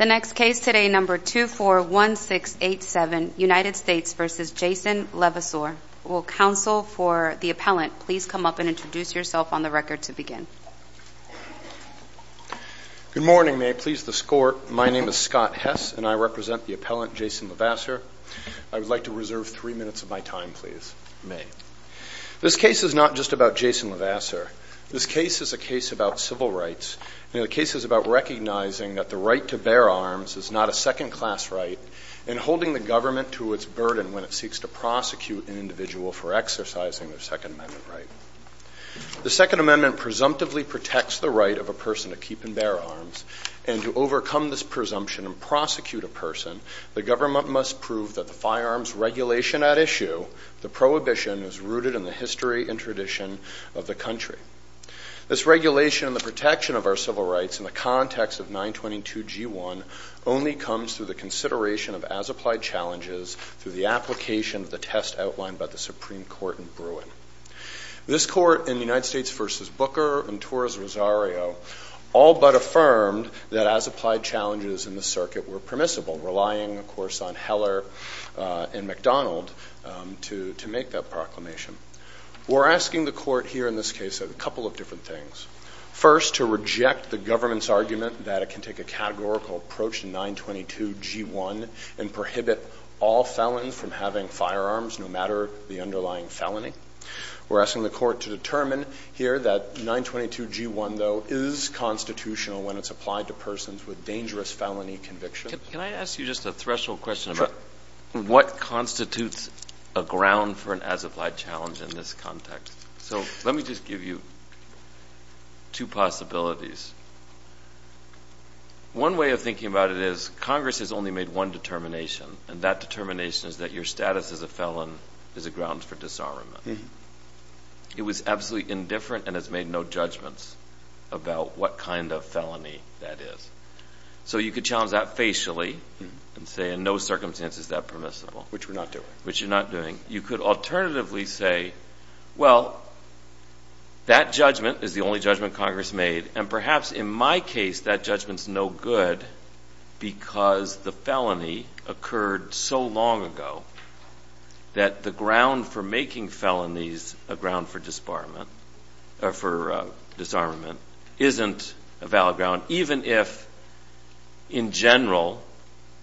The next case today, number 241687, United States v. Jason Levasseur. Will counsel for the appellant please come up and introduce yourself on the record to begin. Good morning, may I please the court. My name is Scott Hess and I represent the appellant, Jason Levasseur. I would like to reserve three minutes of my time, please, may. This case is not just about Jason Levasseur. This case is a case about civil rights and the case is about recognizing that the right to bear arms is not a second class right and holding the government to its burden when it seeks to prosecute an individual for exercising their Second Amendment right. The Second Amendment presumptively protects the right of a person to keep and bear arms and to overcome this presumption and prosecute a person, the government must prove that the firearms regulation at issue, the prohibition is rooted in the history and tradition of the country. This regulation and the protection of our civil rights in the context of 922G1 only comes through the consideration of as applied challenges through the application of the test outlined by the Supreme Court in Bruin. This court in the United States v. Booker and Torres Rosario all but affirmed that as applied challenges in the circuit were permissible, relying of course on Heller and McDonald to make that proclamation. We're asking the court here in this case a couple of different things. First to reject the government's argument that it can take a categorical approach to 922G1 and prohibit all felons from having firearms no matter the underlying felony. We're asking the court to determine here that 922G1 though is constitutional when it's applied to persons with dangerous felony convictions. Can I ask you just a threshold question about what constitutes a ground for an as applied challenge in this context? So let me just give you two possibilities. One way of thinking about it is Congress has only made one determination and that determination is that your status as a felon is a ground for disarmament. It was absolutely indifferent and has made no judgments about what kind of felony that is. So you could challenge that facially and say in no circumstance is that permissible. Which we're not doing. Which you're not doing. You could alternatively say, well, that judgment is the only judgment Congress made and perhaps in my case that judgment's no good because the felony occurred so long ago that the ground for making felonies a ground for disarmament isn't a valid ground. Even if in general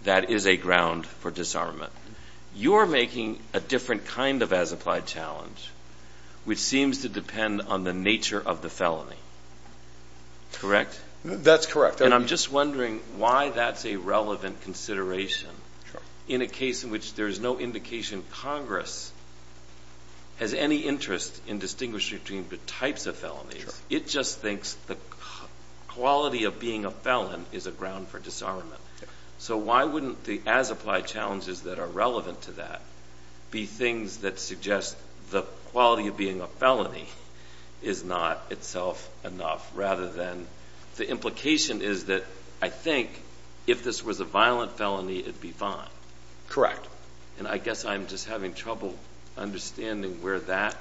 that is a ground for disarmament. You're making a different kind of as applied challenge which seems to depend on the nature of the felony, correct? That's correct. And I'm just wondering why that's a relevant consideration in a case in which there's no indication Congress has any interest in distinguishing between the types of felonies. It just thinks the quality of being a felon is a ground for disarmament. So why wouldn't the as applied challenges that are relevant to that be things that suggest the quality of being a felony is not itself enough rather than the implication is that I think if this was a violent felony it'd be fine. Correct. And I guess I'm just having trouble understanding where that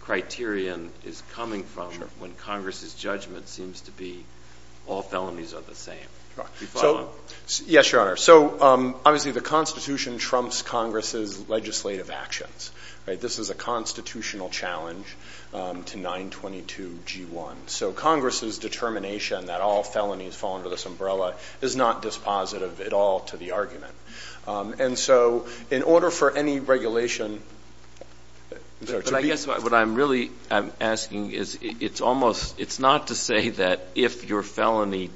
criterion is coming from when Congress's judgment seems to be all felonies are the same. Yes, Your Honor. So obviously the Constitution trumps Congress's legislative actions. This is a constitutional challenge to 922G1. So Congress's determination that all felonies fall under this umbrella is not dispositive at all to the argument. And so in order for any regulation, I'm sorry, to be But I guess what I'm really asking is it's almost, it's not to say that if your felony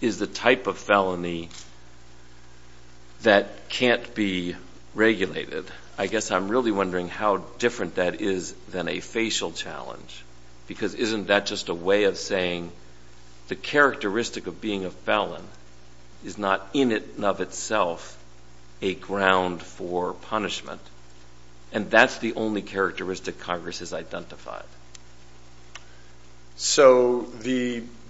is the type of felony that can't be regulated, I guess I'm really wondering how different that is than a facial challenge. Because isn't that just a way of saying the characteristic of being a felon is not in and of itself a ground for punishment? And that's the only characteristic Congress has identified. So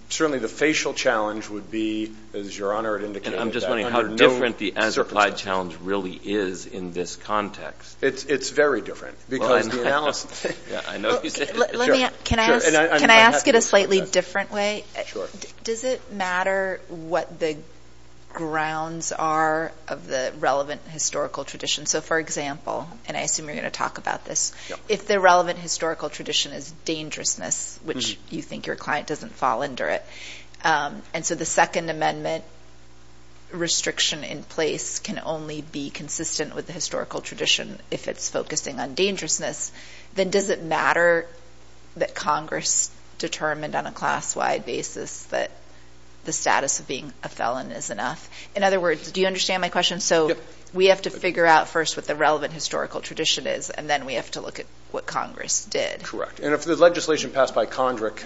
certainly the facial challenge would be, as Your Honor had indicated, under no circumstances. And I'm just wondering how different the as-applied challenge really is in this context. It's very different. Because the analysis Can I ask it a slightly different way? Does it matter what the grounds are of the relevant historical tradition? So for example, and I assume you're going to talk about this, if the relevant historical tradition is dangerousness, which you think your client doesn't fall under it. And so the Second Amendment restriction in place can only be consistent with the historical tradition if it's focusing on dangerousness, then does it matter that Congress determined on a class-wide basis that the status of being a felon is enough? In other words, do you understand my question? So we have to figure out first what the relevant historical tradition is, and then we have to look at what Congress did. And if the legislation passed by Congress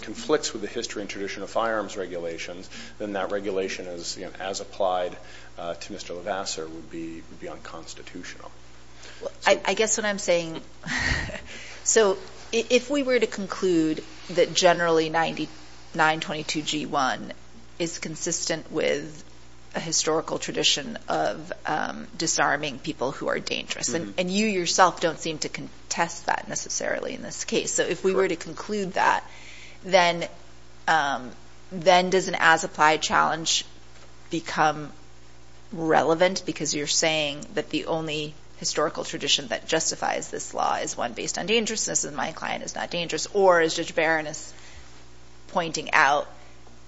conflicts with the history and tradition of firearms regulations, then that regulation as applied to Mr. Levasseur would be unconstitutional. I guess what I'm saying, so if we were to conclude that generally 922G1 is consistent with a historical tradition of disarming people who are dangerous, and you yourself don't seem to contest that necessarily in this case. So if we were to conclude that, then does an as-applied challenge become relevant? Because you're saying that the only historical tradition that justifies this law is one based on dangerousness, and my client is not dangerous. Or as Judge Barron is pointing out,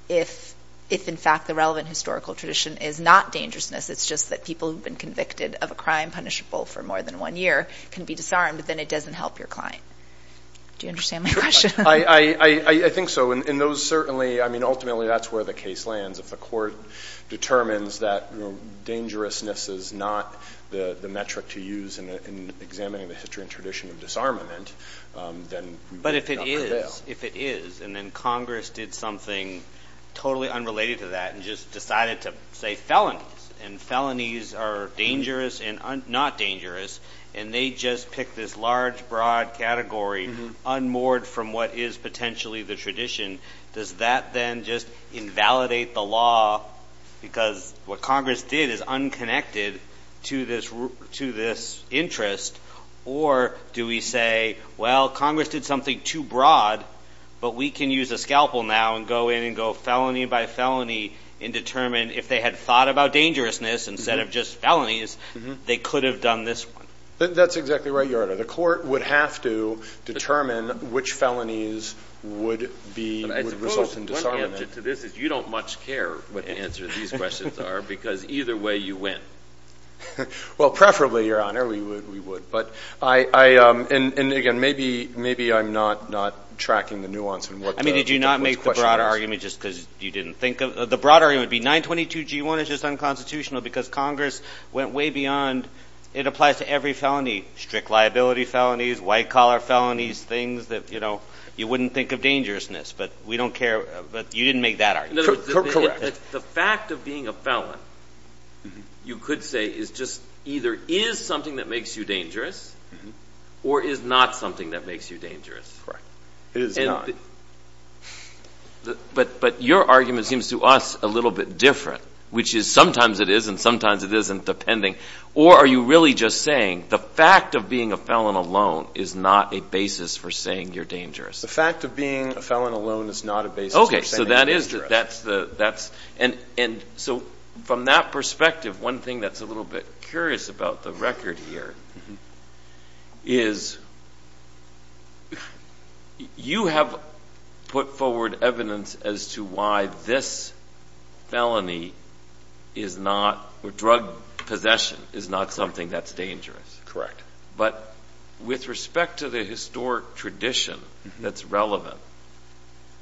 if in fact the relevant historical tradition is not dangerousness, it's just that people who've been convicted of a crime punishable for more than one year can be disarmed, but then it doesn't help your client. Do you understand my question? I think so. And those certainly, I mean, ultimately that's where the case lands. If the court determines that dangerousness is not the metric to use in examining the history and tradition of disarmament, then we would not prevail. But if it is, if it is, and then Congress did something totally unrelated to that and just decided to say felonies, and felonies are dangerous and not dangerous, and they just pick this large, broad category unmoored from what is potentially the tradition, does that then just invalidate the law because what Congress did is unconnected to this interest? Or do we say, well, Congress did something too broad, but we can use a scalpel now and go in and go felony by felony and determine if they had thought about dangerousness instead of just felonies, they could have done this one. That's exactly right, Your Honor. The court would have to determine which felonies would be, would result in disarmament. I suppose one answer to this is you don't much care what the answer to these questions are because either way you win. Well, preferably, Your Honor, we would. But I, and again, maybe I'm not tracking the nuance in what the question is. I mean, did you not make the broader argument just because you didn't think of, the broader argument would be 922G1 is just unconstitutional because Congress went way beyond, it applies to every felony, strict liability felonies, white collar felonies, things that, you know, you wouldn't think of dangerousness, but we don't care, but you didn't make that argument. Correct. The fact of being a felon, you could say, is just either is something that makes you dangerous or is not something that makes you dangerous. Correct. It is not. But your argument seems to us a little bit different, which is sometimes it is and sometimes it isn't, depending, or are you really just saying the fact of being a felon alone is not a basis for saying you're dangerous? The fact of being a felon alone is not a basis for saying you're dangerous. So that is, that's, and so from that perspective, one thing that's a little bit curious about the record here is you have put forward evidence as to why this felony is not, or drug possession is not something that's dangerous. Correct. But with respect to the historic tradition that's relevant,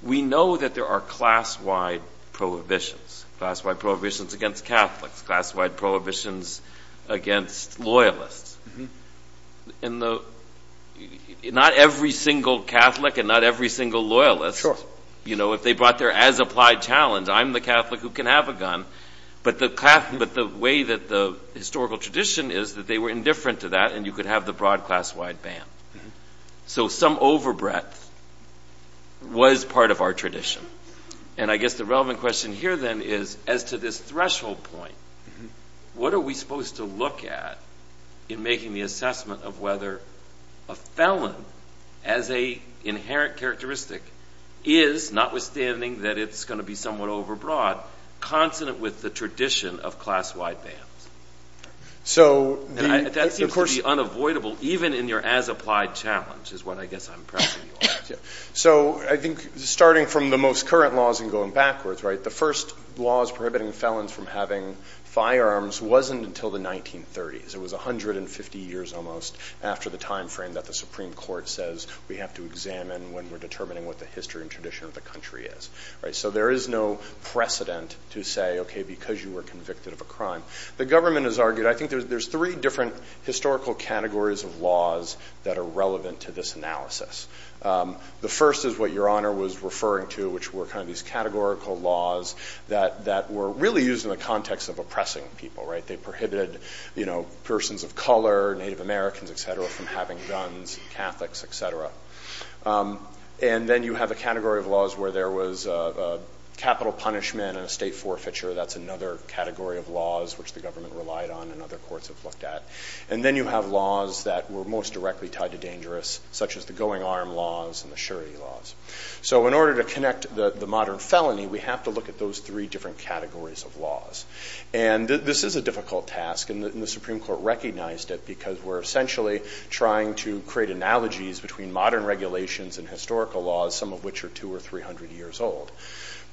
we know that there are class-wide prohibitions. Class-wide prohibitions against Catholics, class-wide prohibitions against Loyalists. Not every single Catholic and not every single Loyalist, you know, if they brought their as-applied challenge, I'm the Catholic who can have a gun, but the way that the historical tradition is that they were indifferent to that and you could have the broad class-wide ban. So some over breadth was part of our tradition. And I guess the relevant question here then is, as to this threshold point, what are we supposed to look at in making the assessment of whether a felon as a inherent characteristic is, notwithstanding that it's going to be somewhat over broad, consonant with the tradition of class-wide bans? So the, of course, that seems to be unavoidable even in your as-applied challenge is what I guess I'm pressing you on. So I think starting from the most current laws and going backwards, right, the first laws prohibiting felons from having firearms wasn't until the 1930s. It was 150 years almost after the time frame that the Supreme Court says we have to examine when we're determining what the history and tradition of the country is. So there is no precedent to say, okay, because you were convicted of a crime. The government has argued, I think there's three different historical categories of laws that are relevant to this analysis. The first is what Your Honor was referring to, which were kind of these categorical laws that were really used in the context of oppressing people, right? They prohibited, you know, persons of color, Native Americans, et cetera, from having guns, Catholics, et cetera. And then you have a category of laws where there was capital punishment and a state forfeiture. That's another category of laws which the government relied on and other courts have looked at. And then you have laws that were most directly tied to dangerous, such as the going arm laws and the surety laws. So in order to connect the modern felony, we have to look at those three different categories of laws. And this is a difficult task and the Supreme Court recognized it because we're essentially trying to create analogies between modern regulations and historical laws, some of which are 200 or 300 years old.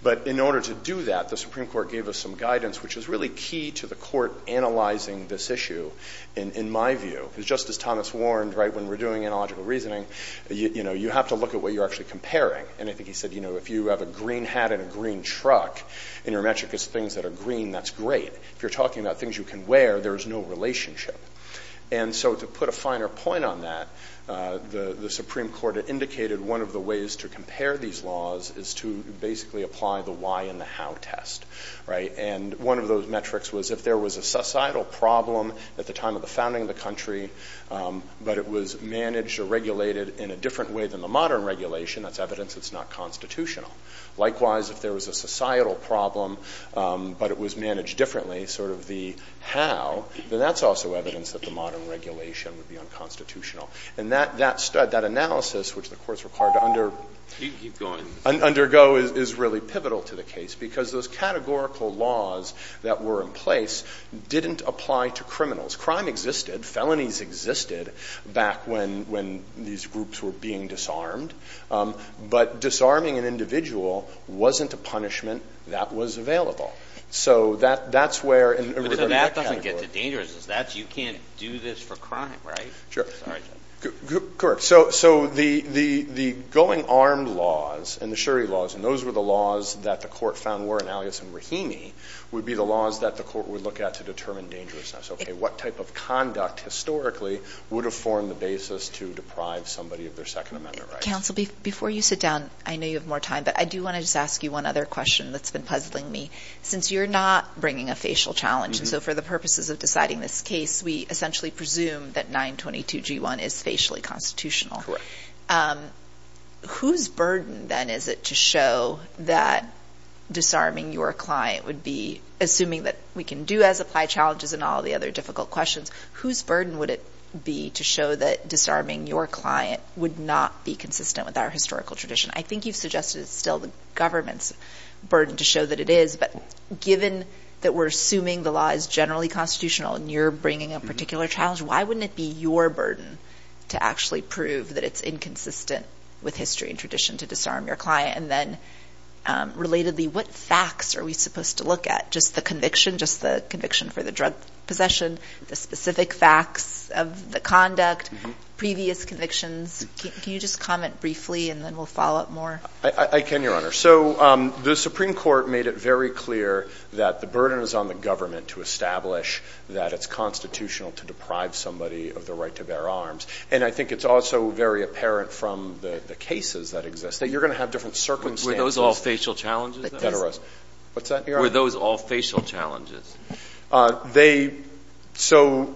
But in order to do that, the Supreme Court gave us some guidance, which is really key to the court analyzing this issue, in my view, because just as Thomas warned, right, when we're doing analogical reasoning, you know, you have to look at what you're actually comparing. And I think he said, you know, if you have a green hat and a green truck and your metric is things that are green, that's great. If you're talking about things you can wear, there is no relationship. And so to put a finer point on that, the Supreme Court indicated one of the ways to compare these laws is to basically apply the why and the how test, right? And one of those metrics was if there was a societal problem at the time of the founding of the country, but it was managed or regulated in a different way than the modern regulation, that's evidence it's not constitutional. Likewise, if there was a societal problem, but it was managed differently, sort of the how, then that's also evidence that the modern regulation would be unconstitutional. And that analysis, which the courts required to undergo is really pivotal to the case because those categorical laws that were in place didn't apply to criminals. Crime existed. Felonies existed back when these groups were being disarmed. But disarming an individual wasn't a punishment that was available. So that's where, in regard to that category. But that doesn't get to dangerousness. You can't do this for crime, right? Sure. Sorry. Correct. So the going armed laws and the sherry laws, and those were the laws that the court found were in alias in Rahimi, would be the laws that the court would look at to determine dangerousness. Okay. What type of conduct historically would have formed the basis to deprive somebody of their Second Amendment rights? Counsel, before you sit down, I know you have more time, but I do want to just ask you one other question that's been puzzling me. Since you're not bringing a facial challenge, and so for the purposes of deciding this case, we essentially presume that 922 G1 is facially constitutional. Whose burden then is it to show that disarming your client would be, assuming that we can do as apply challenges and all the other difficult questions, whose burden would it be to show that disarming your client would not be consistent with our historical tradition? I think you've suggested it's still the government's burden to show that it is, but given that we're assuming the law is generally constitutional and you're bringing a particular challenge, why wouldn't it be your burden to actually prove that it's inconsistent with history and tradition to disarm your client? And then, relatedly, what facts are we supposed to look at? Just the conviction, just the conviction for the drug possession, the specific facts of the conduct, previous convictions, can you just comment briefly and then we'll follow up more? I can, Your Honor. So the Supreme Court made it very clear that the burden is on the government to establish that it's constitutional to deprive somebody of the right to bear arms. And I think it's also very apparent from the cases that exist that you're going to have different circumstances. Were those all facial challenges, then? That's right. What's that, Your Honor? Were those all facial challenges? So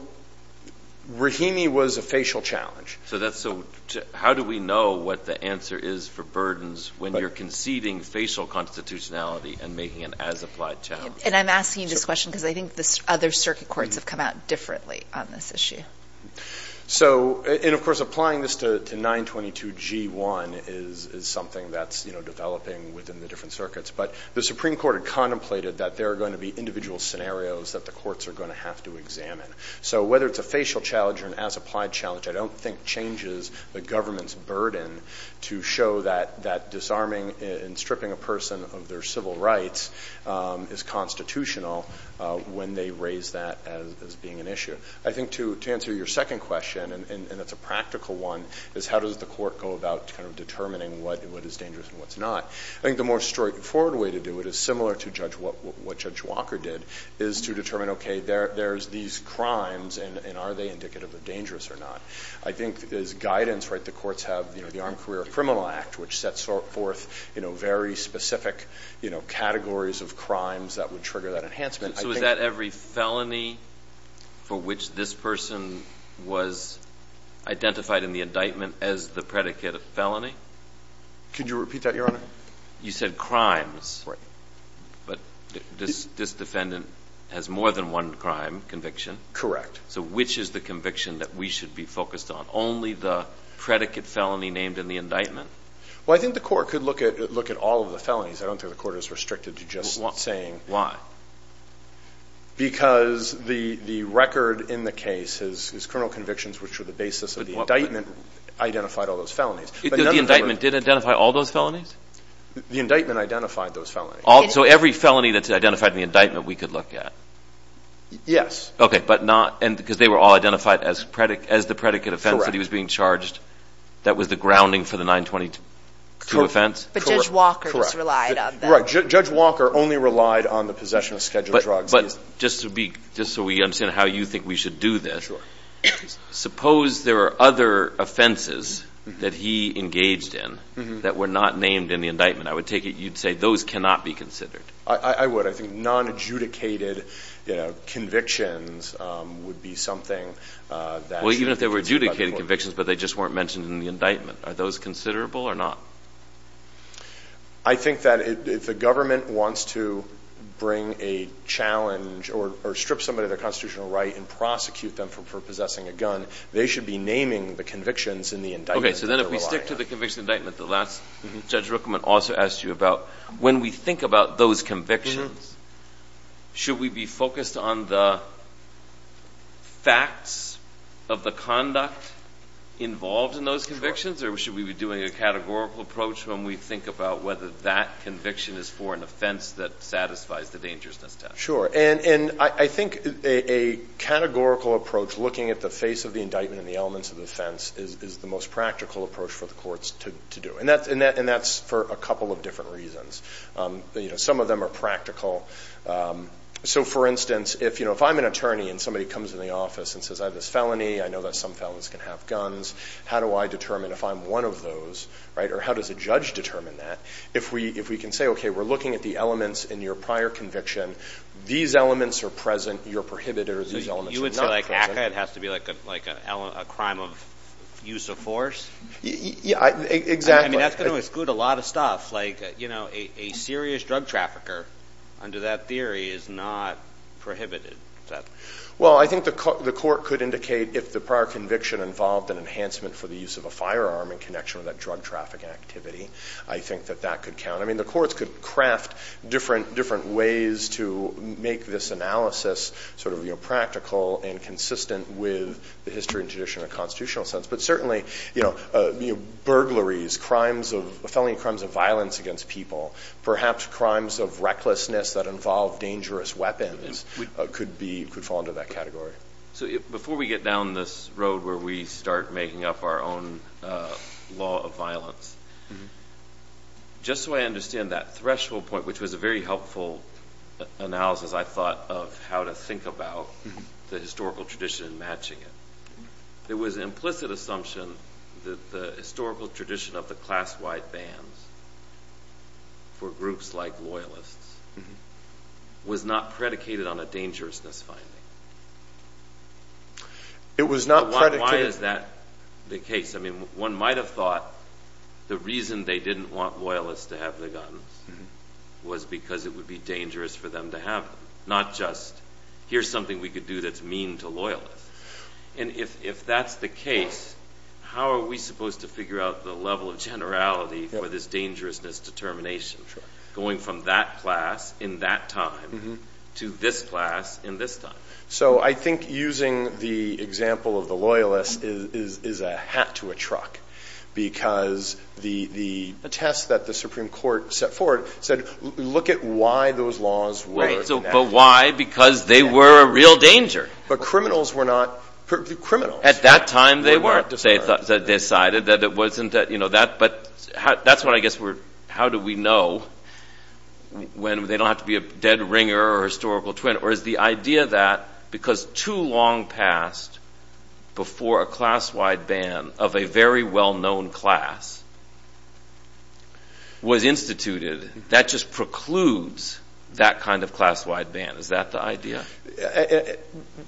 Rahimi was a facial challenge. So how do we know what the answer is for burdens when you're conceding facial constitutionality and making an as-applied challenge? And I'm asking you this question because I think the other circuit courts have come out differently on this issue. So and, of course, applying this to 922G1 is something that's developing within the different circuits. But the Supreme Court had contemplated that there are going to be individual scenarios that the courts are going to have to examine. So whether it's a facial challenge or an as-applied challenge, I don't think changes the government's burden to show that disarming and stripping a person of their civil rights is constitutional when they raise that as being an issue. I think to answer your second question, and it's a practical one, is how does the court go about kind of determining what is dangerous and what's not? I think the more straightforward way to do it is similar to what Judge Walker did, is to determine, OK, there's these crimes, and are they indicative of dangerous or not? I think there's guidance, right? The courts have the Armed Career Criminal Act, which sets forth very specific categories of crimes that would trigger that enhancement. I think— So is that every felony for which this person was identified in the indictment as the predicate of felony? Could you repeat that, Your Honor? You said crimes. Right. But this defendant has more than one crime conviction. Correct. So which is the conviction that we should be focused on? Only the predicate felony named in the indictment? Well, I think the court could look at all of the felonies. I don't think the court is restricted to just saying— Why? Because the record in the case, his criminal convictions, which were the basis of the indictment, identified all those felonies. The indictment did identify all those felonies? The indictment identified those felonies. So every felony that's identified in the indictment, we could look at? Yes. Okay. But not—because they were all identified as the predicate offense that he was being charged that was the grounding for the 922 offense? Correct. But Judge Walker just relied on that. Correct. Judge Walker only relied on the possession of scheduled drugs. But just to be—just so we understand how you think we should do this, suppose there were other offenses that he engaged in that were not named in the indictment, I would take it you'd say those cannot be considered? I would. I think non-adjudicated convictions would be something that should be considered by Well, even if they were adjudicated convictions, but they just weren't mentioned in the indictment, are those considerable or not? I think that if the government wants to bring a challenge or strip somebody of their constitutional right and prosecute them for possessing a gun, they should be naming the convictions in the indictment. Okay. So then if we stick to the conviction indictment, the last—Judge Rookman also asked you about when we think about those convictions, should we be focused on the facts of the conduct involved in those convictions, or should we be doing a categorical approach when we think about whether that conviction is for an offense that satisfies the dangerousness test? Sure. And I think a categorical approach looking at the face of the indictment and the elements of the offense is the most practical approach for the courts to do, and that's for a couple of different reasons. Some of them are practical. So for instance, if I'm an attorney and somebody comes in the office and says I have this felony, I know that some felons can have guns, how do I determine if I'm one of those, or how does a judge determine that? If we can say, okay, we're looking at the elements in your prior conviction, these elements are present, you're prohibited, or these elements are not present— So you would say like ACCA, it has to be like a crime of use of force? Yeah, exactly. I mean, that's going to exclude a lot of stuff, like, you know, a serious drug trafficker under that theory is not prohibited. Is that— Well, I think the court could indicate if the prior conviction involved an enhancement for the use of a firearm in connection with that drug traffic activity, I think that that could count. I mean, the courts could craft different ways to make this analysis sort of practical and consistent with the history and tradition in a constitutional sense. But certainly, you know, burglaries, felony crimes of violence against people, perhaps crimes of recklessness that involve dangerous weapons could fall into that category. So before we get down this road where we start making up our own law of violence, just so I understand that threshold point, which was a very helpful analysis, I thought, of how to think about the historical tradition and matching it, there was an implicit assumption that the historical tradition of the class-wide bans for groups like loyalists was not predicated on a dangerousness finding. It was not predicated— Why is that the case? I mean, one might have thought the reason they didn't want loyalists to have the guns was because it would be dangerous for them to have them, not just, here's something we could do that's mean to loyalists. And if that's the case, how are we supposed to figure out the level of generality for this dangerousness determination, going from that class in that time to this class in this time? So I think using the example of the loyalists is a hat to a truck, because the test that the Supreme Court set forward said, look at why those laws were enacted. Right. But why? Because they were a real danger. But criminals were not—criminals. At that time, they weren't. They weren't discarded. But that's what I guess we're—how do we know when they don't have to be a dead ringer or a historical twin? Or is the idea that because too long passed before a class-wide ban of a very well-known class was instituted, that just precludes that kind of class-wide ban? Is that the idea?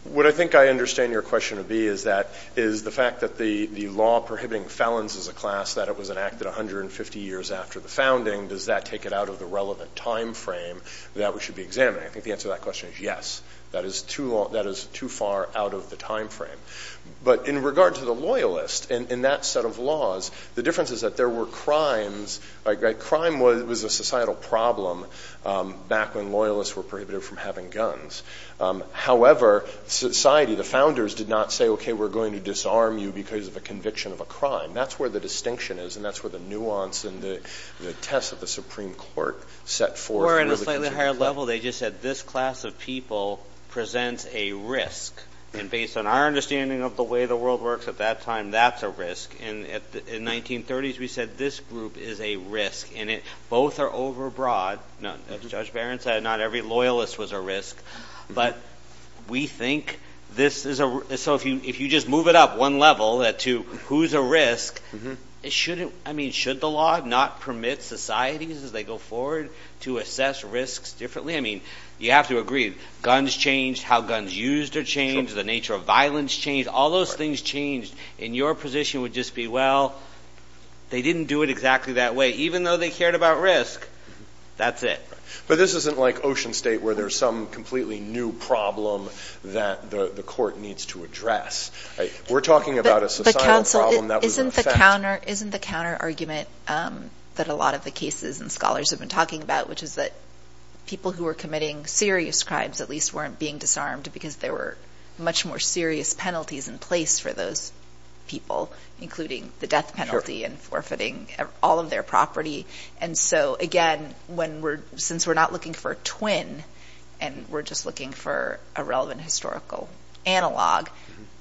What I think I understand your question to be is that—is the fact that the law prohibiting felons as a class, that it was enacted 150 years after the founding, does that take it out of the relevant time frame that we should be examining? I think the answer to that question is yes. That is too long—that is too far out of the time frame. But in regard to the loyalists, in that set of laws, the difference is that there were crimes—crime was a societal problem back when loyalists were prohibited from having guns. However, society, the founders, did not say, OK, we're going to disarm you because of a conviction of a crime. That's where the distinction is, and that's where the nuance and the test of the Supreme Court set forth— Or in a slightly higher level, they just said, this class of people presents a risk. And based on our understanding of the way the world works at that time, that's a risk. And in the 1930s, we said, this group is a risk. And both are overbroad. Judge Barron said not every loyalist was a risk. But we think this is a—so if you just move it up one level to who's a risk, should the law not permit societies as they go forward to assess risks differently? I mean, you have to agree, guns changed, how guns used are changed, the nature of violence changed. All those things changed. And your position would just be, well, they didn't do it exactly that way. Even though they cared about risk, that's it. But this isn't like Ocean State, where there's some completely new problem that the court needs to address. We're talking about a societal problem that was affected. Isn't the counterargument that a lot of the cases and scholars have been talking about, which is that people who were committing serious crimes at least weren't being disarmed because there were much more serious penalties in place for those people, including the death of property. And so, again, when we're—since we're not looking for a twin, and we're just looking for a relevant historical analog,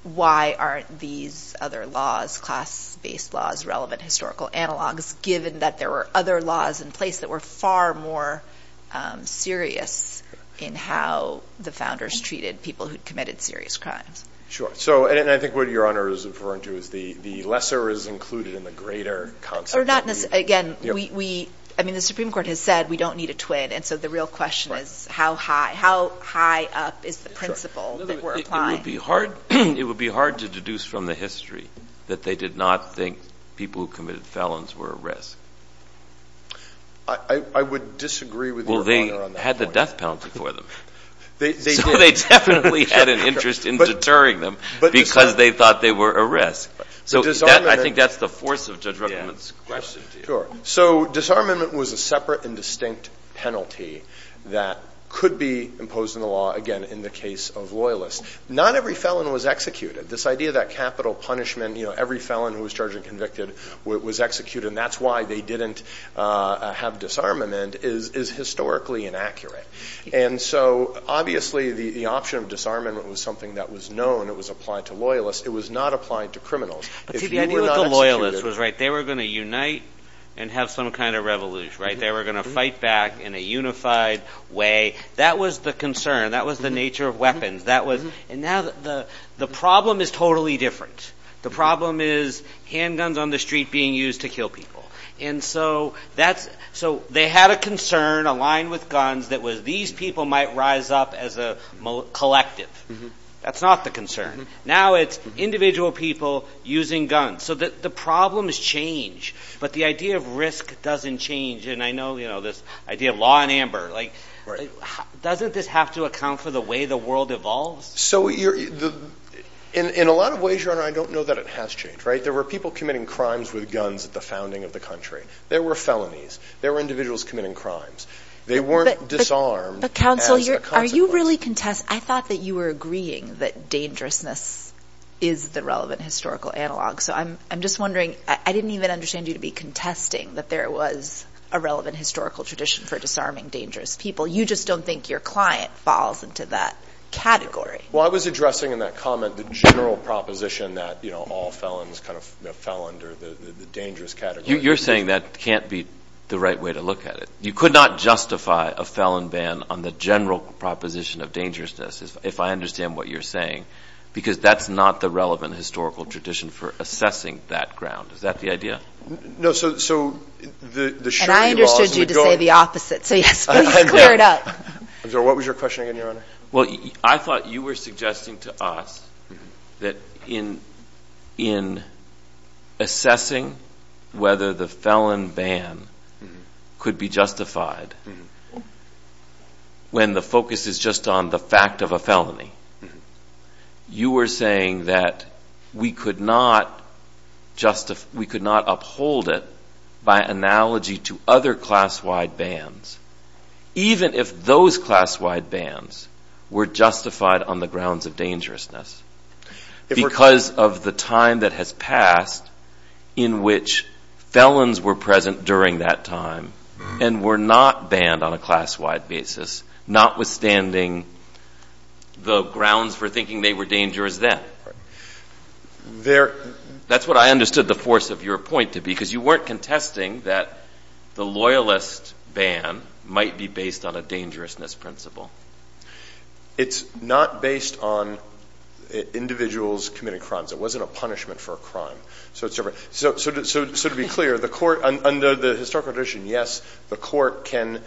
why aren't these other laws, class-based laws, relevant historical analogs, given that there were other laws in place that were far more serious in how the founders treated people who'd committed serious crimes? Sure. So, and I think what Your Honor is referring to is the lesser is included in the greater concept. Well, we're not—again, we—I mean, the Supreme Court has said we don't need a twin, and so the real question is how high—how high up is the principle that we're applying? It would be hard to deduce from the history that they did not think people who committed felons were a risk. I would disagree with Your Honor on that point. Well, they had the death penalty for them. They did. So they definitely had an interest in deterring them because they thought they were a risk. So I think that's the force of Judge Ruppemann's question to you. So disarmament was a separate and distinct penalty that could be imposed in the law, again, in the case of loyalists. Not every felon was executed. This idea that capital punishment, you know, every felon who was charged and convicted was executed, and that's why they didn't have disarmament, is historically inaccurate. And so, obviously, the option of disarmament was something that was known, it was applied to loyalists. It was not applied to criminals. If you were not executed— But to me, I think the loyalist was right. They were going to unite and have some kind of revolution, right? They were going to fight back in a unified way. That was the concern. That was the nature of weapons. That was—and now the problem is totally different. The problem is handguns on the street being used to kill people. And so that's—so they had a concern aligned with guns that was these people might rise up as a collective. That's not the concern. Now it's individual people using guns. So the problem has changed, but the idea of risk doesn't change. And I know, you know, this idea of law and amber, like, doesn't this have to account for the way the world evolves? So you're—in a lot of ways, Your Honor, I don't know that it has changed, right? There were people committing crimes with guns at the founding of the country. There were felonies. There were individuals committing crimes. They weren't disarmed as a consequence. I thought that you were agreeing that dangerousness is the relevant historical analog. So I'm just wondering—I didn't even understand you to be contesting that there was a relevant historical tradition for disarming dangerous people. You just don't think your client falls into that category. Well, I was addressing in that comment the general proposition that, you know, all felons kind of fell under the dangerous category. You're saying that can't be the right way to look at it. You could not justify a felon ban on the general proposition of dangerousness, if I understand what you're saying, because that's not the relevant historical tradition for assessing that ground. Is that the idea? No. So the surety laws would go— And I understood you to say the opposite, so yes, please clear it up. I'm sorry. What was your question again, Your Honor? Well, I thought you were suggesting to us that in assessing whether the felon ban could be justified, when the focus is just on the fact of a felony, you were saying that we could not uphold it by analogy to other class-wide bans, even if those class-wide bans were justified on the grounds of dangerousness, because of the time that has passed in which felons were present during that time and were not banned on a class-wide basis, notwithstanding the grounds for thinking they were dangerous then. That's what I understood the force of your point to be, because you weren't contesting that the loyalist ban might be based on a dangerousness principle. It's not based on individuals committing crimes. It wasn't a punishment for a crime. So to be clear, under the historical tradition, yes, the court can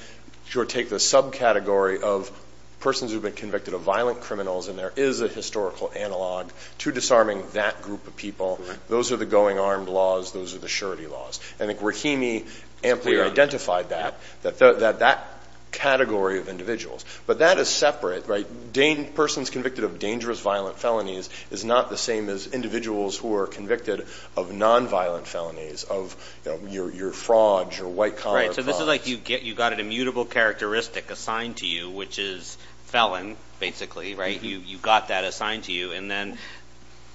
take the subcategory of persons who have been convicted of violent criminals, and there is a historical analog to disarming that group of people. Those are the going armed laws. Those are the surety laws. I think Rahimi amply identified that, that category of individuals. But that is separate, right? The main persons convicted of dangerous violent felonies is not the same as individuals who are convicted of non-violent felonies, of your frauds, your white-collar frauds. Right, so this is like you got an immutable characteristic assigned to you, which is felon, basically, right? You got that assigned to you, and then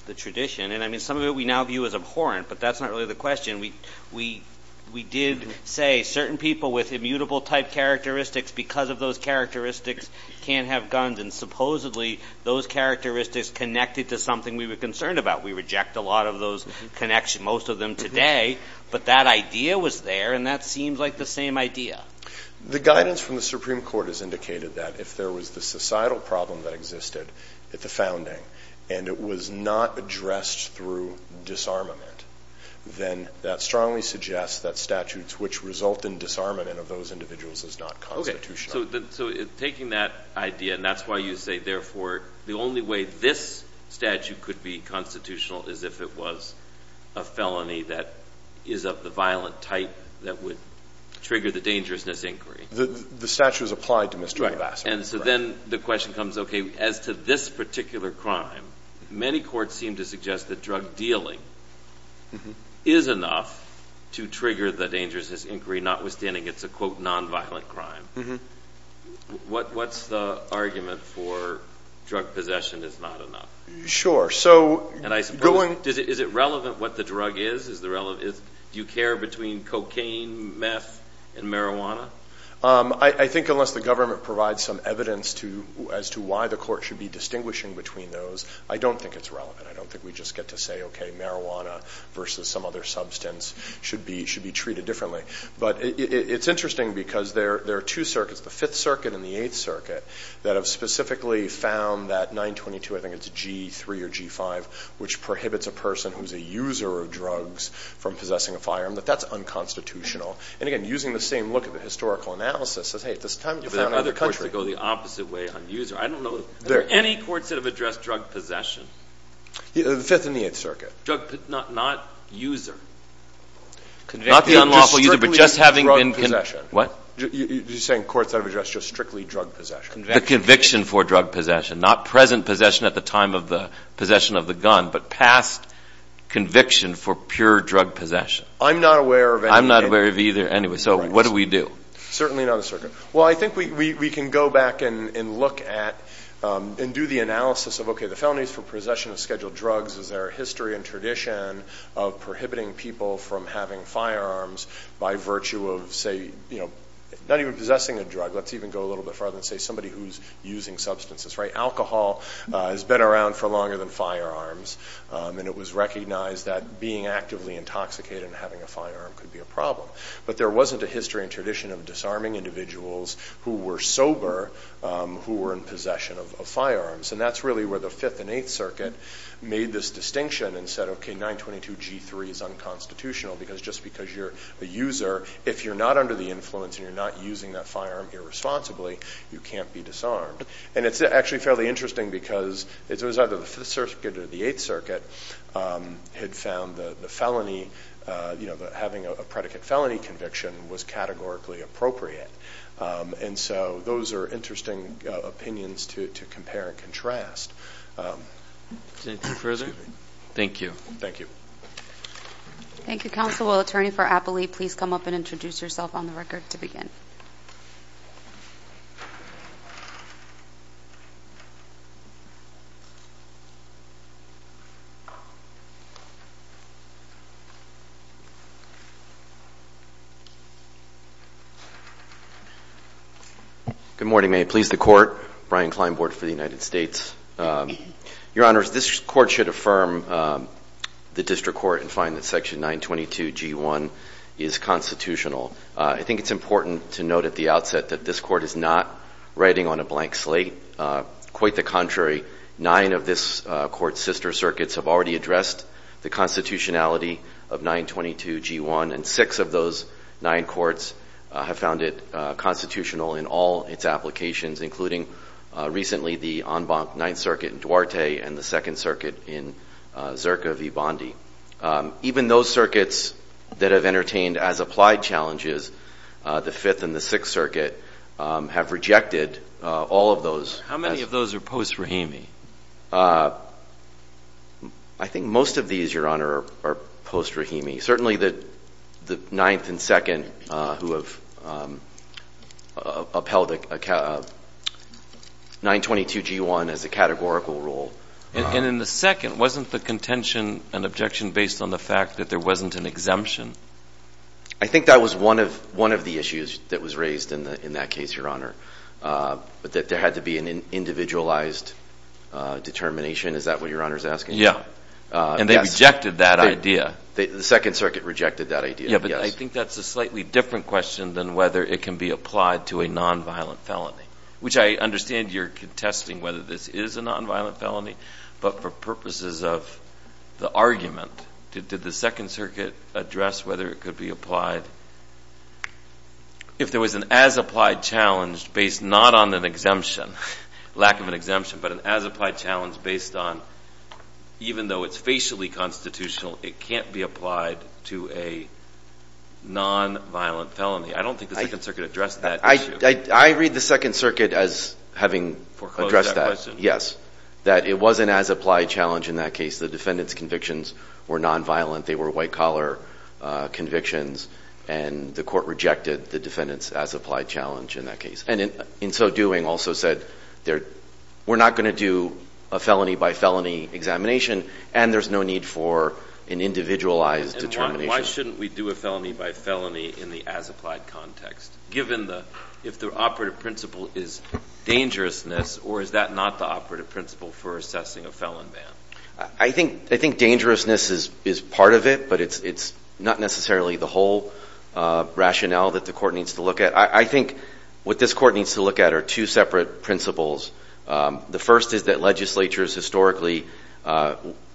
the tradition, and I mean, some of it we now view as abhorrent, but that's not really the question. We did say certain people with immutable-type characteristics, because of those characteristics, can't have guns, and then supposedly, those characteristics connected to something we were concerned about. We reject a lot of those connections, most of them today, but that idea was there, and that seems like the same idea. The guidance from the Supreme Court has indicated that if there was the societal problem that existed at the founding, and it was not addressed through disarmament, then that strongly suggests that statutes which result in disarmament of those individuals is not constitutional. So, taking that idea, and that's why you say, therefore, the only way this statute could be constitutional is if it was a felony that is of the violent type that would trigger the dangerousness inquiry. The statute is applied to Mr. McLaster. And so then, the question comes, okay, as to this particular crime, many courts seem to suggest that drug dealing is enough to trigger the dangerousness inquiry, notwithstanding it's a, quote, non-violent crime. What's the argument for drug possession is not enough? Sure. And I suppose, is it relevant what the drug is? Do you care between cocaine, meth, and marijuana? I think unless the government provides some evidence as to why the court should be distinguishing between those, I don't think it's relevant. I don't think we just get to say, okay, marijuana versus some other substance should be treated differently. But it's interesting because there are two circuits, the Fifth Circuit and the Eighth Circuit, that have specifically found that 922, I think it's G3 or G5, which prohibits a person who's a user of drugs from possessing a firearm, that that's unconstitutional. And again, using the same look at the historical analysis, says, hey, at this time, you found out the country. But other courts would go the opposite way on user. I don't know, are there any courts that have addressed drug possession? The Fifth and the Eighth Circuit. Drug, not user. Not the unlawful user, but just having been. What? You're saying courts have addressed just strictly drug possession. The conviction for drug possession. Not present possession at the time of the possession of the gun, but past conviction for pure drug possession. I'm not aware of any. I'm not aware of either. Anyway, so what do we do? Certainly not the circuit. Well, I think we can go back and look at and do the analysis of, okay, the felonies for possession of scheduled drugs. Is there a history and tradition of prohibiting people from having firearms by virtue of, say, you know, not even possessing a drug. Let's even go a little bit further and say somebody who's using substances. Right? Alcohol has been around for longer than firearms. And it was recognized that being actively intoxicated and having a firearm could be a problem. But there wasn't a history and tradition of disarming individuals who were sober who were in possession of firearms. And that's really where the Fifth and Eighth Circuit made this distinction and said, okay, 922 G3 is unconstitutional. Because just because you're a user, if you're not under the influence and you're not using that firearm irresponsibly, you can't be disarmed. And it's actually fairly interesting because it was either the Fifth Circuit or the Eighth Circuit had found the felony, you know, that having a predicate felony conviction was categorically appropriate. And so those are interesting opinions to compare and contrast. Anything further? Thank you. Thank you. Thank you, counsel. Attorney for Appley, please come up and introduce yourself on the record to begin. Good morning. May it please the Court. Brian Klein, Board for the United States. Your Honors, this Court should affirm the District Court and find that Section 922 G1 is constitutional. I think it's important to note at the outset that this Court is not writing on a blank slate. Quite the contrary. Nine of this Court's sister circuits have already addressed the constitutionality of 922 G1, and six of those nine courts have found it constitutional in all its applications, including recently the en banc Ninth Circuit in Duarte and the Second Circuit in Zirka v. Bondi. Even those circuits that have entertained as applied challenges, the Fifth and the Sixth Circuit, have rejected all of those. How many of those are post-Rahimi? I think most of these, Your Honor, are post-Rahimi. Certainly the Ninth and Second who have upheld 922 G1 as a categorical rule. And in the Second, wasn't the contention and objection based on the fact that there wasn't an exemption? I think that was one of the issues that was raised in that case, Your Honor, that there had to be an individualized determination. Is that what Your Honor is asking? Yeah. And they rejected that idea. The Second Circuit rejected that idea, yes. Yeah, but I think that's a slightly different question than whether it can be applied to a nonviolent felony, which I understand you're contesting whether this is a nonviolent felony, but for purposes of the argument, did the Second Circuit address whether it could be applied? If there was an as-applied challenge based not on an exemption, lack of an exemption, but an as-applied challenge based on even though it's facially constitutional, it can't be applied to a nonviolent felony. I don't think the Second Circuit addressed that issue. I read the Second Circuit as having addressed that. Foreclosed that question. Yes. That it was an as-applied challenge in that case. The defendant's convictions were nonviolent. They were white-collar convictions, and the court rejected the defendant's as-applied challenge in that case. And in so doing, also said we're not going to do a felony-by-felony examination, and there's no need for an individualized determination. And why shouldn't we do a felony-by-felony in the as-applied context, given if the operative principle is dangerousness, or is that not the operative principle for assessing a felon ban? I think dangerousness is part of it, but it's not necessarily the whole rationale that the court needs to look at. I think what this court needs to look at are two separate principles. The first is that legislatures historically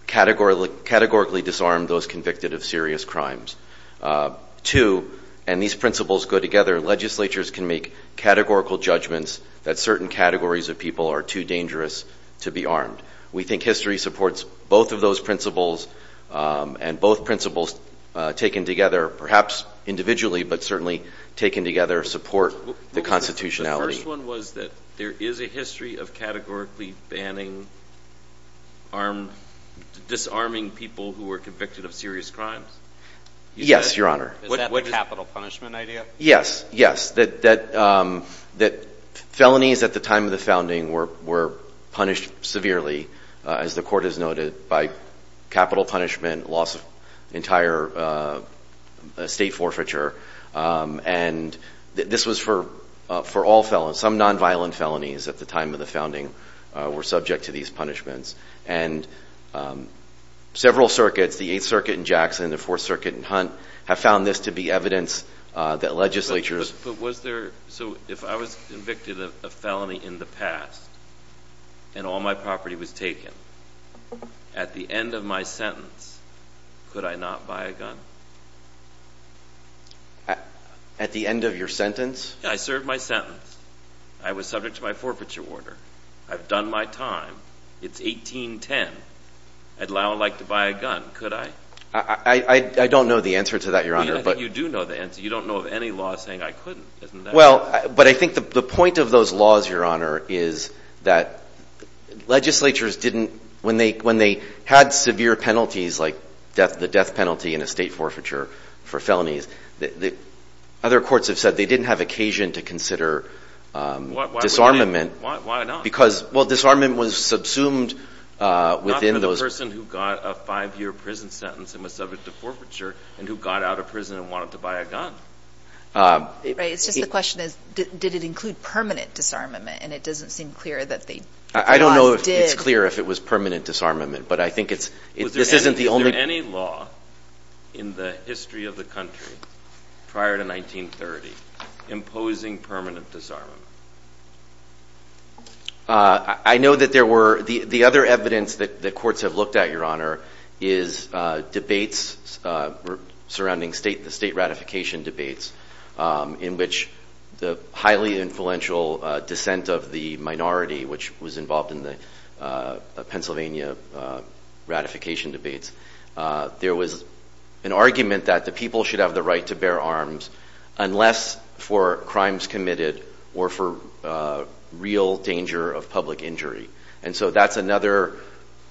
categorically disarm those convicted of serious crimes. Two, and these principles go together, legislatures can make categorical judgments that certain categories of people are too dangerous to be armed. We think history supports both of those principles, and both principles taken together, perhaps individually, but certainly taken together, support the constitutionality. The first one was that there is a history of categorically disarming people who were convicted of serious crimes? Yes, Your Honor. Is that the capital punishment idea? Yes, yes. Felonies at the time of the founding were punished severely, as the court has noted, by capital punishment, loss of entire estate forfeiture, and this was for all felons. Some nonviolent felonies at the time of the founding were subject to these punishments, and several circuits, the Eighth Circuit in Jackson, the Fourth Circuit in Hunt, have found this to be evidence that legislatures But was there, so if I was convicted of a felony in the past, and all my property was taken, at the end of my sentence, could I not buy a gun? At the end of your sentence? Yeah, I served my sentence. I was subject to my forfeiture order. I've done my time. It's 1810. I'd like to buy a gun. Could I? I don't know the answer to that, Your Honor. I think you do know the answer. You don't know of any law saying I couldn't, isn't that right? Well, but I think the point of those laws, Your Honor, is that legislatures didn't, when they had severe penalties like the death penalty and estate forfeiture for felonies, other courts have said they didn't have occasion to consider disarmament. Why not? Because, well, disarmament was subsumed within those There was a person who got a five-year prison sentence and was subject to forfeiture and who got out of prison and wanted to buy a gun. Right. It's just the question is did it include permanent disarmament, and it doesn't seem clear that they did. I don't know if it's clear if it was permanent disarmament, but I think this isn't the only Was there any law in the history of the country prior to 1930 imposing permanent disarmament? I know that there were, the other evidence that courts have looked at, Your Honor, is debates surrounding the state ratification debates, in which the highly influential dissent of the minority, which was involved in the Pennsylvania ratification debates, there was an argument that the people should have the right to bear arms unless for crimes committed or for real danger of public injury. And so that's another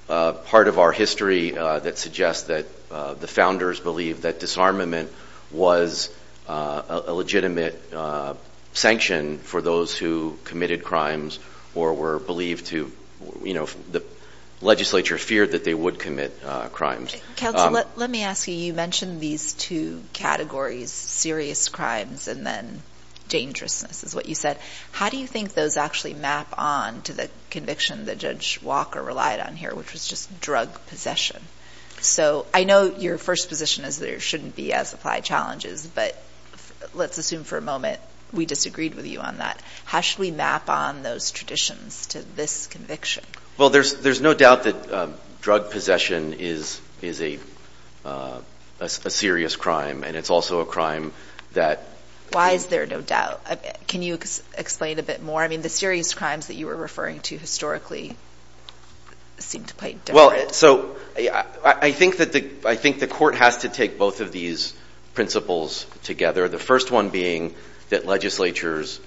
part of our history that suggests that the founders believed that disarmament was a legitimate sanction for those who committed crimes or were believed to, you know, the legislature feared that they would commit crimes. Counsel, let me ask you. You mentioned these two categories, serious crimes and then dangerousness is what you said. How do you think those actually map on to the conviction that Judge Walker relied on here, which was just drug possession? So I know your first position is there shouldn't be as applied challenges, but let's assume for a moment we disagreed with you on that. How should we map on those traditions to this conviction? Well, there's no doubt that drug possession is a serious crime, and it's also a crime that- Why is there no doubt? Can you explain a bit more? I mean, the serious crimes that you were referring to historically seem to play differently. Well, so I think the court has to take both of these principles together, the first one being that legislatures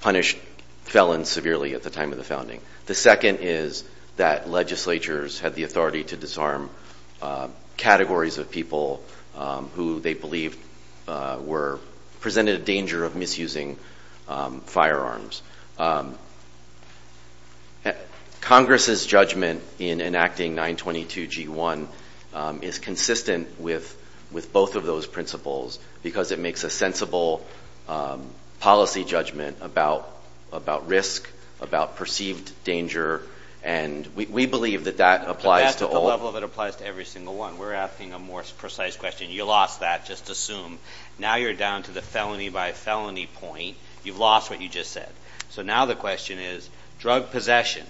punished felons severely at the time of the founding. The second is that legislatures had the authority to disarm categories of people who they believed presented a danger of misusing firearms. Congress's judgment in enacting 922G1 is consistent with both of those principles because it makes a sensible policy judgment about risk, about perceived danger, and we believe that that applies to all- But that's at the level that it applies to every single one. We're asking a more precise question. You lost that. Just assume. Now you're down to the felony by felony point. You've lost what you just said. So now the question is, drug possession,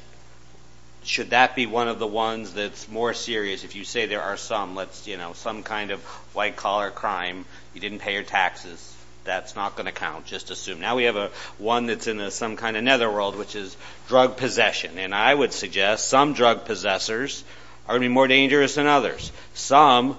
should that be one of the ones that's more serious? If you say there are some, let's, you know, some kind of white-collar crime, you didn't pay your taxes, that's not going to count. Just assume. Now we have one that's in some kind of netherworld, which is drug possession, and I would suggest some drug possessors are going to be more dangerous than others. Some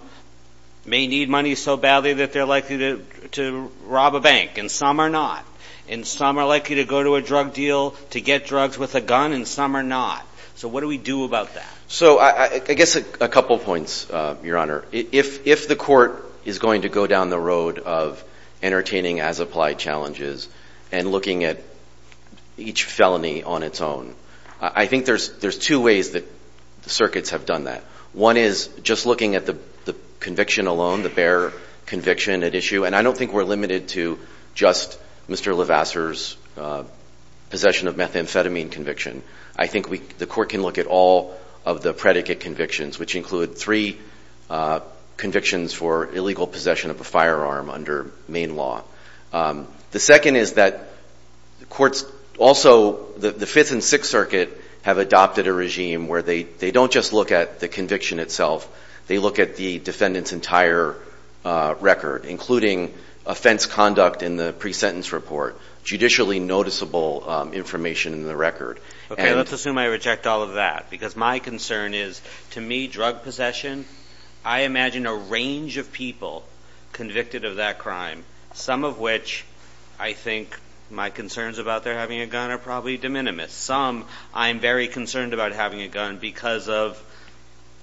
may need money so badly that they're likely to rob a bank, and some are not, and some are likely to go to a drug deal to get drugs with a gun, and some are not. So what do we do about that? So I guess a couple points, Your Honor. If the court is going to go down the road of entertaining as-applied challenges and looking at each felony on its own, I think there's two ways that circuits have done that. One is just looking at the conviction alone, the bare conviction at issue, and I don't think we're limited to just Mr. Levasseur's possession of methamphetamine conviction. I think the court can look at all of the predicate convictions, which include three convictions for illegal possession of a firearm under Maine law. The second is that courts also, the Fifth and Sixth Circuit, have adopted a regime where they don't just look at the conviction itself, they look at the defendant's entire record, including offense conduct in the pre-sentence report, judicially noticeable information in the record. Okay, let's assume I reject all of that, because my concern is, to me, drug possession, I imagine a range of people convicted of that crime, some of which I think my concerns about their having a gun are probably de minimis. Some I'm very concerned about having a gun because of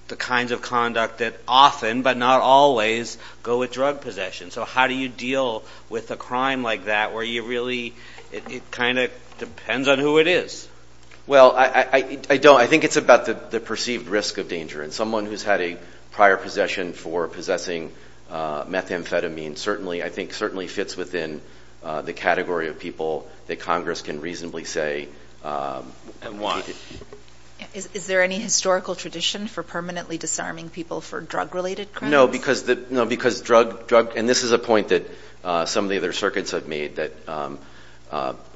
the kinds of conduct that often, but not always, go with drug possession. So how do you deal with a crime like that where you really, it kind of depends on who it is? Well, I don't. I think it's about the perceived risk of danger, and someone who's had a prior possession for possessing methamphetamine, I think certainly fits within the category of people that Congress can reasonably say. And why? Is there any historical tradition for permanently disarming people for drug-related crimes? No, because drug, and this is a point that some of the other circuits have made, that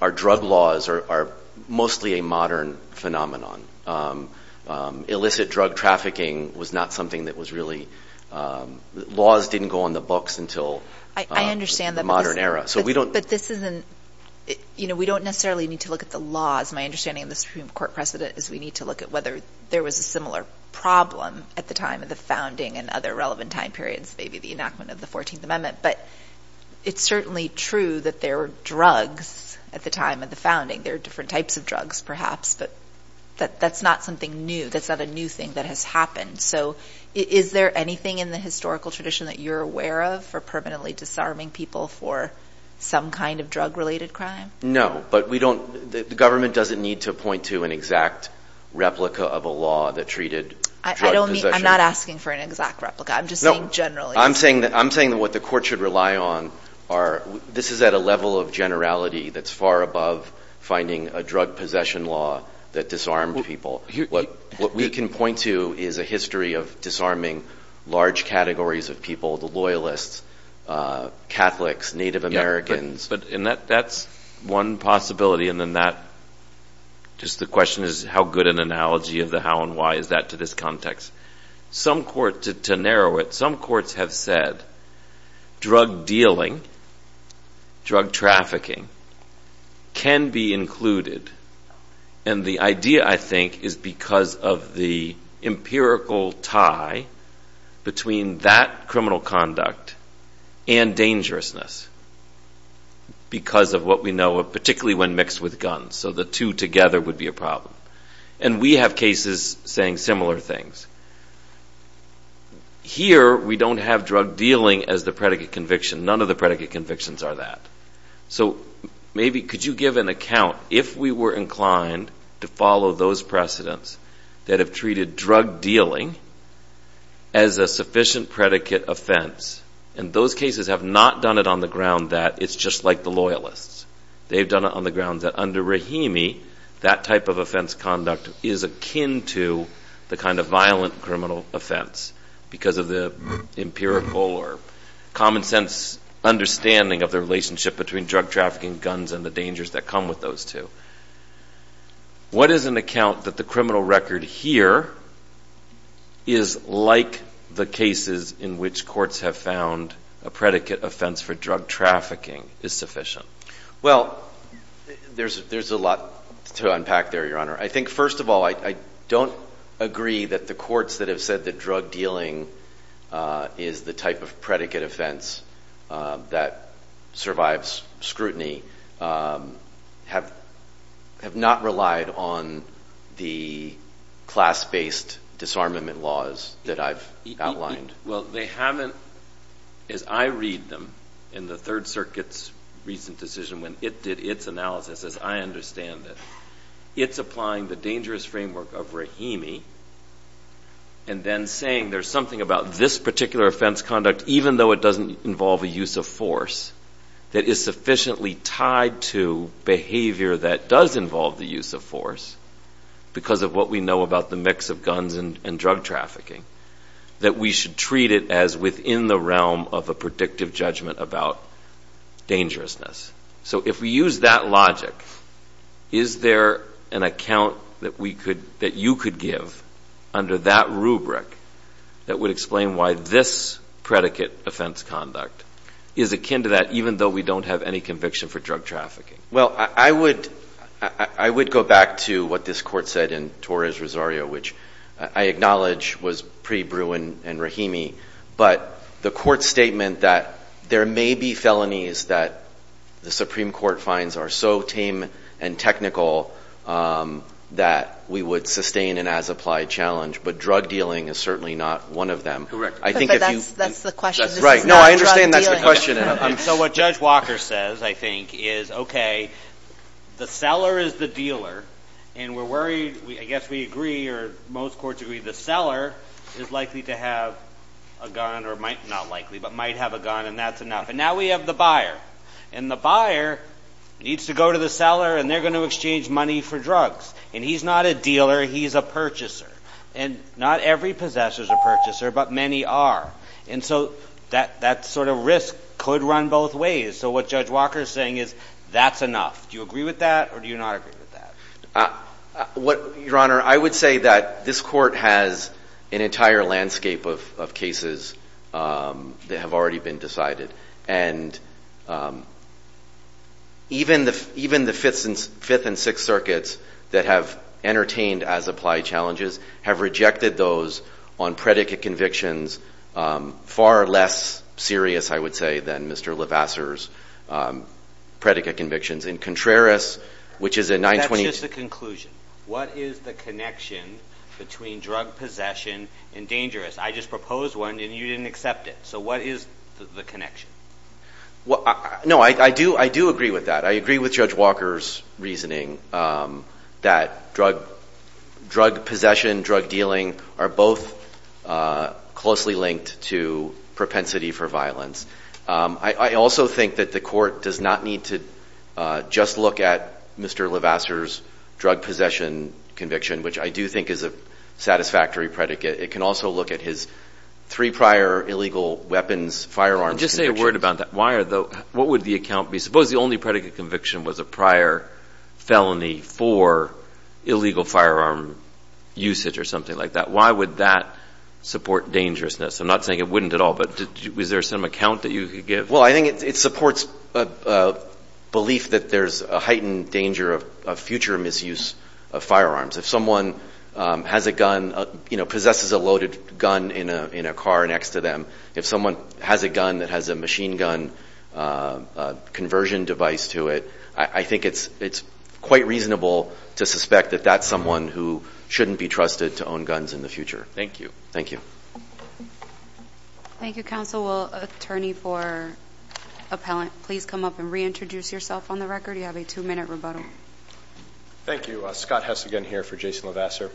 our drug laws are mostly a modern phenomenon. Illicit drug trafficking was not something that was really, laws didn't go on the books until the modern era. But this isn't, you know, we don't necessarily need to look at the laws. My understanding of the Supreme Court precedent is we need to look at whether there was a similar problem at the time of the founding and other relevant time periods, maybe the enactment of the 14th Amendment. But it's certainly true that there were drugs at the time of the founding. There are different types of drugs, perhaps, but that's not something new. That's not a new thing that has happened. So is there anything in the historical tradition that you're aware of for permanently disarming people for some kind of drug-related crime? No, but we don't, the government doesn't need to point to an exact replica of a law that treated drugs. I don't mean, I'm not asking for an exact replica. I'm just saying generally. I'm saying that what the court should rely on are, this is at a level of generality that's far above finding a drug possession law that disarmed people. What we can point to is a history of disarming large categories of people, the loyalists, Catholics, Native Americans. But that's one possibility, and then that, just the question is how good an analogy of the how and why is that to this context? To narrow it, some courts have said drug dealing, drug trafficking, can be included. And the idea, I think, is because of the empirical tie between that criminal conduct and dangerousness, because of what we know of particularly when mixed with guns. So the two together would be a problem. And we have cases saying similar things. Here we don't have drug dealing as the predicate conviction. None of the predicate convictions are that. So maybe could you give an account, if we were inclined to follow those precedents that have treated drug dealing as a sufficient predicate offense, and those cases have not done it on the ground that it's just like the loyalists. They've done it on the ground that under Rahimi, that type of offense conduct is akin to the kind of violent criminal offense, because of the empirical or common sense understanding of the relationship between drug trafficking, guns, and the dangers that come with those two. What is an account that the criminal record here is like the cases in which courts have found a predicate offense for drug trafficking is sufficient? Well, there's a lot to unpack there, Your Honor. I think, first of all, I don't agree that the courts that have said that drug dealing is the type of predicate offense that survives scrutiny have not relied on the class-based disarmament laws that I've outlined. Well, they haven't, as I read them in the Third Circuit's recent decision when it did its analysis, as I understand it. It's applying the dangerous framework of Rahimi and then saying there's something about this particular offense conduct, even though it doesn't involve a use of force, that is sufficiently tied to behavior that does involve the use of force, because of what we know about the mix of guns and drug trafficking, that we should treat it as within the realm of a predictive judgment about dangerousness. So if we use that logic, is there an account that you could give under that rubric that would explain why this predicate offense conduct is akin to that, even though we don't have any conviction for drug trafficking? Well, I would go back to what this Court said in Torres-Rosario, which I acknowledge was pre-Bruin and Rahimi, but the Court's statement that there may be felonies that the Supreme Court finds are so tame and technical that we would sustain an as-applied challenge, but drug dealing is certainly not one of them. That's the question. Right. No, I understand that's the question. So what Judge Walker says, I think, is, okay, the seller is the dealer, and we're worried, I guess we agree, or most courts agree, the seller is likely to have a gun, or not likely, but might have a gun, and that's enough. And now we have the buyer, and the buyer needs to go to the seller, and they're going to exchange money for drugs. And he's not a dealer, he's a purchaser. And not every possessor is a purchaser, but many are. And so that sort of risk could run both ways. So what Judge Walker is saying is, that's enough. Do you agree with that, or do you not agree with that? Your Honor, I would say that this Court has an entire landscape of cases that have already been decided. And even the Fifth and Sixth Circuits that have entertained as applied challenges have rejected those on predicate convictions, far less serious, I would say, than Mr. Levasseur's predicate convictions. In Contreras, which is a 920- That's just a conclusion. What is the connection between drug possession and dangerous? I just proposed one, and you didn't accept it. So what is the connection? No, I do agree with that. I agree with Judge Walker's reasoning that drug possession, drug dealing are both closely linked to propensity for violence. I also think that the Court does not need to just look at Mr. Levasseur's drug possession conviction, which I do think is a satisfactory predicate. It can also look at his three prior illegal weapons, firearms convictions. Just say a word about that. What would the account be? Suppose the only predicate conviction was a prior felony for illegal firearm usage or something like that. Why would that support dangerousness? I'm not saying it wouldn't at all, but was there some account that you could give? Well, I think it supports a belief that there's a heightened danger of future misuse of firearms. If someone has a gun, possesses a loaded gun in a car next to them, if someone has a gun that has a machine gun conversion device to it, I think it's quite reasonable to suspect that that's someone who shouldn't be trusted to own guns in the future. Thank you. Thank you, Counsel. Will Attorney for Appellant please come up and reintroduce yourself on the record? You have a two-minute rebuttal. Thank you. Scott Hess again here for Jason Levasseur.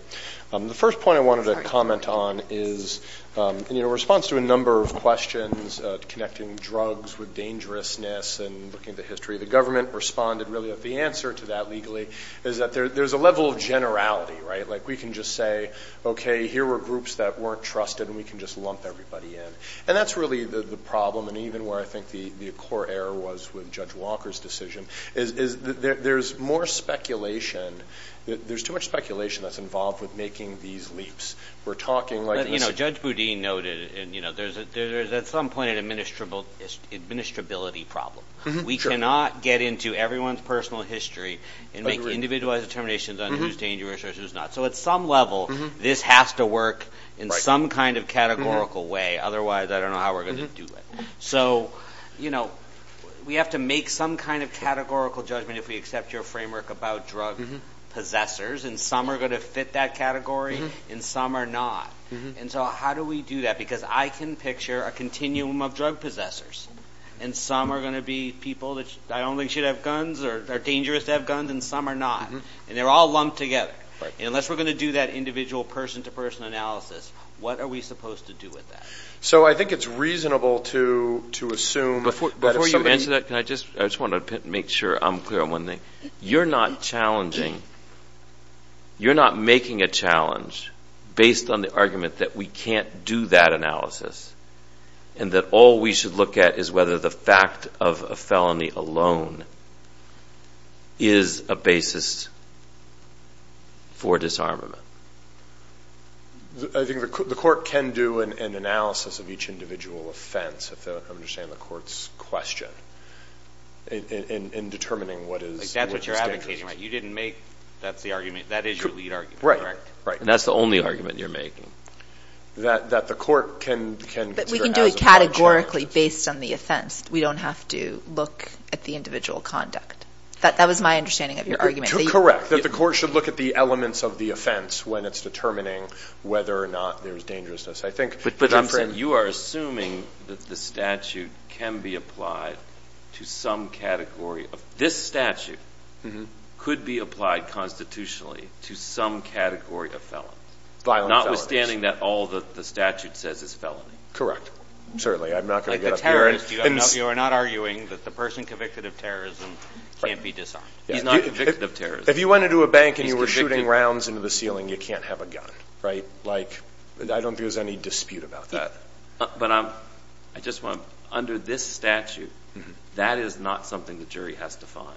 The first point I wanted to comment on is, in response to a number of questions, connecting drugs with dangerousness and looking at the history, the government responded really that the answer to that legally is that there's a level of generality, right? Like we can just say, okay, here were groups that weren't trusted, and we can just lump everybody in. And that's really the problem. And even where I think the core error was with Judge Walker's decision is there's more speculation. There's too much speculation that's involved with making these leaps. We're talking like this. But, you know, Judge Boudin noted, you know, there's at some point an administrability problem. We cannot get into everyone's personal history and make individualized determinations on who's dangerous or who's not. So at some level, this has to work in some kind of categorical way. Otherwise, I don't know how we're going to do it. So, you know, we have to make some kind of categorical judgment if we accept your framework about drug possessors. And some are going to fit that category, and some are not. And so how do we do that? Because I can picture a continuum of drug possessors, and some are going to be people that I don't think should have guns or are dangerous to have guns, and some are not. And they're all lumped together. And unless we're going to do that individual person-to-person analysis, what are we supposed to do with that? So I think it's reasonable to assume that if somebody- Before you answer that, I just want to make sure I'm clear on one thing. You're not challenging. You're not making a challenge based on the argument that we can't do that analysis and that all we should look at is whether the fact of a felony alone is a basis for disarmament. I think the court can do an analysis of each individual offense, if I understand the court's question, in determining what is dangerous. That's what you're advocating, right? You didn't make that's the argument. That is your lead argument, correct? Right, right. And that's the only argument you're making. That the court can consider as a- But we can do it categorically based on the offense. We don't have to look at the individual conduct. That was my understanding of your argument. Correct. That the court should look at the elements of the offense when it's determining whether or not there's dangerousness. I think- But Jimson, you are assuming that the statute can be applied to some category of- This statute could be applied constitutionally to some category of felons. Violent felonies. Notwithstanding that all that the statute says is felony. Correct. Certainly. I'm not going to get up here and- Like the terrorist, you are not arguing that the person convicted of terrorism can't be disarmed. He's not convicted of terrorism. If you went into a bank and you were shooting rounds into the ceiling, you can't have a gun, right? Like, I don't view as any dispute about that. But I just want to- Under this statute, that is not something the jury has to find.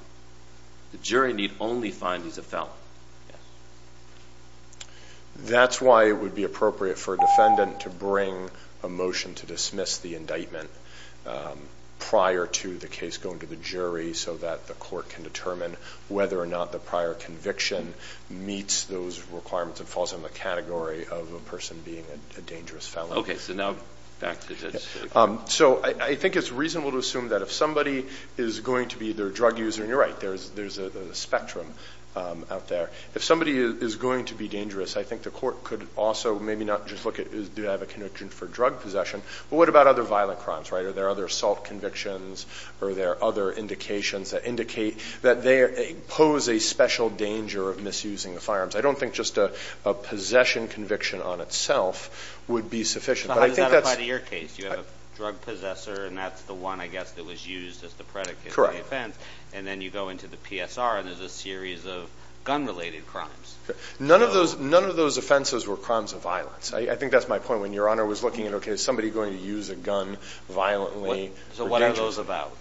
The jury need only find he's a felon. That's why it would be appropriate for a defendant to bring a motion to dismiss the indictment prior to the case going to the jury so that the court can determine whether or not the prior conviction meets those requirements and falls in the category of a person being a dangerous felon. Okay. So now back to this. So I think it's reasonable to assume that if somebody is going to be either a drug user- And you're right. There's a spectrum out there. If somebody is going to be dangerous, I think the court could also maybe not just look at- Do they have a conviction for drug possession? But what about other violent crimes, right? Are there other assault convictions? Are there other indications that indicate that they pose a special danger of misusing the firearms? I don't think just a possession conviction on itself would be sufficient. But I think that's- So how does that apply to your case? You have a drug possessor, and that's the one, I guess, that was used as the predicate for the offense. And then you go into the PSR, and there's a series of gun-related crimes. None of those offenses were crimes of violence. I think that's my point. When Your Honor was looking at, okay, is somebody going to use a gun violently? So what are those about?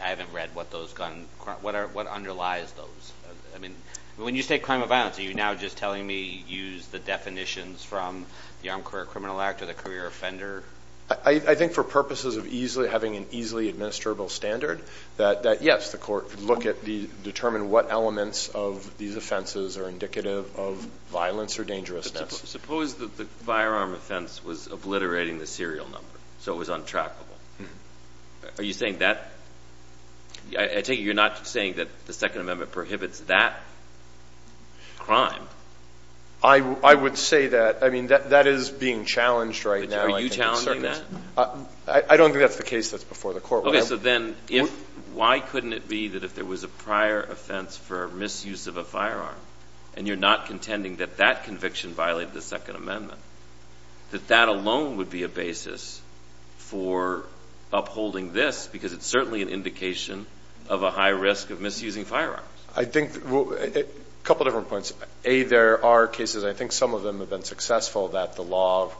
I haven't read what those gun- What underlies those? I mean, when you say crime of violence, are you now just telling me use the definitions from the Armed Career Criminal Act or the career offender? I think for purposes of having an easily administrable standard, that, yes, the court could look at and determine what elements of these offenses are indicative of violence or dangerousness. Suppose that the firearm offense was obliterating the serial number, so it was untrackable. Are you saying that? I take it you're not saying that the Second Amendment prohibits that crime. I would say that. I mean, that is being challenged right now. Are you challenging that? I don't think that's the case that's before the court. Okay, so then why couldn't it be that if there was a prior offense for misuse of a firearm and you're not contending that that conviction violated the Second Amendment, that that alone would be a basis for upholding this, because it's certainly an indication of a high risk of misusing firearms. I think a couple of different points. A, there are cases, and I think some of them have been successful, that the law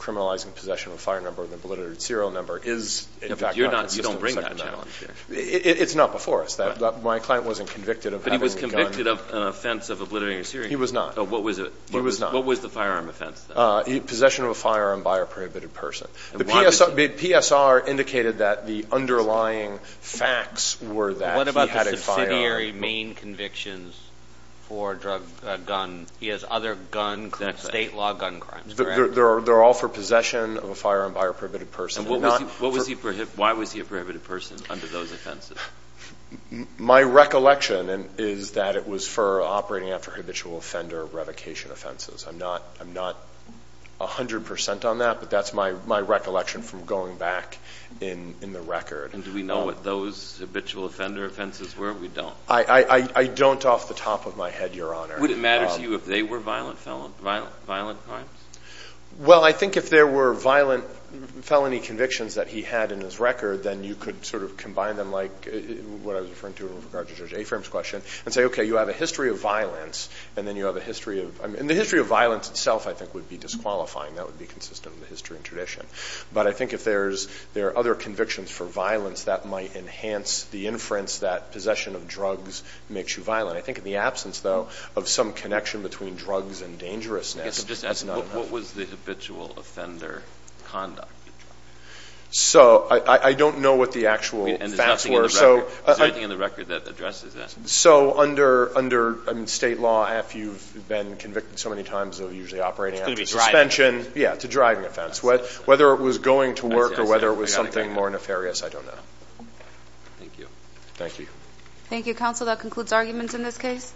criminalizing possession of a firearm number of an obliterated serial number is, in fact, not consistent with the Second Amendment. You don't bring that challenge here. It's not before us. My client wasn't convicted of having a gun. But he was convicted of an offense of obliterating a serial number. He was not. What was it? He was not. What was the firearm offense, then? Possession of a firearm by a prohibited person. The PSR indicated that the underlying facts were that he had a firearm. What about the subsidiary main convictions for a gun? He has other state law gun crimes, correct? They're all for possession of a firearm by a prohibited person. Why was he a prohibited person under those offenses? My recollection is that it was for operating after habitual offender revocation offenses. I'm not 100 percent on that, but that's my recollection from going back in the record. And do we know what those habitual offender offenses were? We don't. I don't off the top of my head, Your Honor. Would it matter to you if they were violent crimes? Well, I think if there were violent felony convictions that he had in his record, then you could sort of combine them like what I was referring to with regard to Judge Afram's question and say, okay, you have a history of violence and then you have a history of – and the history of violence itself I think would be disqualifying. That would be consistent with the history and tradition. But I think if there are other convictions for violence, that might enhance the inference that possession of drugs makes you violent. I think in the absence, though, of some connection between drugs and dangerousness, that's not enough. What was the habitual offender conduct? So I don't know what the actual facts were. Is there anything in the record that addresses that? So under State law, if you've been convicted so many times of usually operating after suspension. Yeah, it's a driving offense. Whether it was going to work or whether it was something more nefarious, I don't know. Thank you. Thank you. Thank you, counsel. That concludes arguments in this case.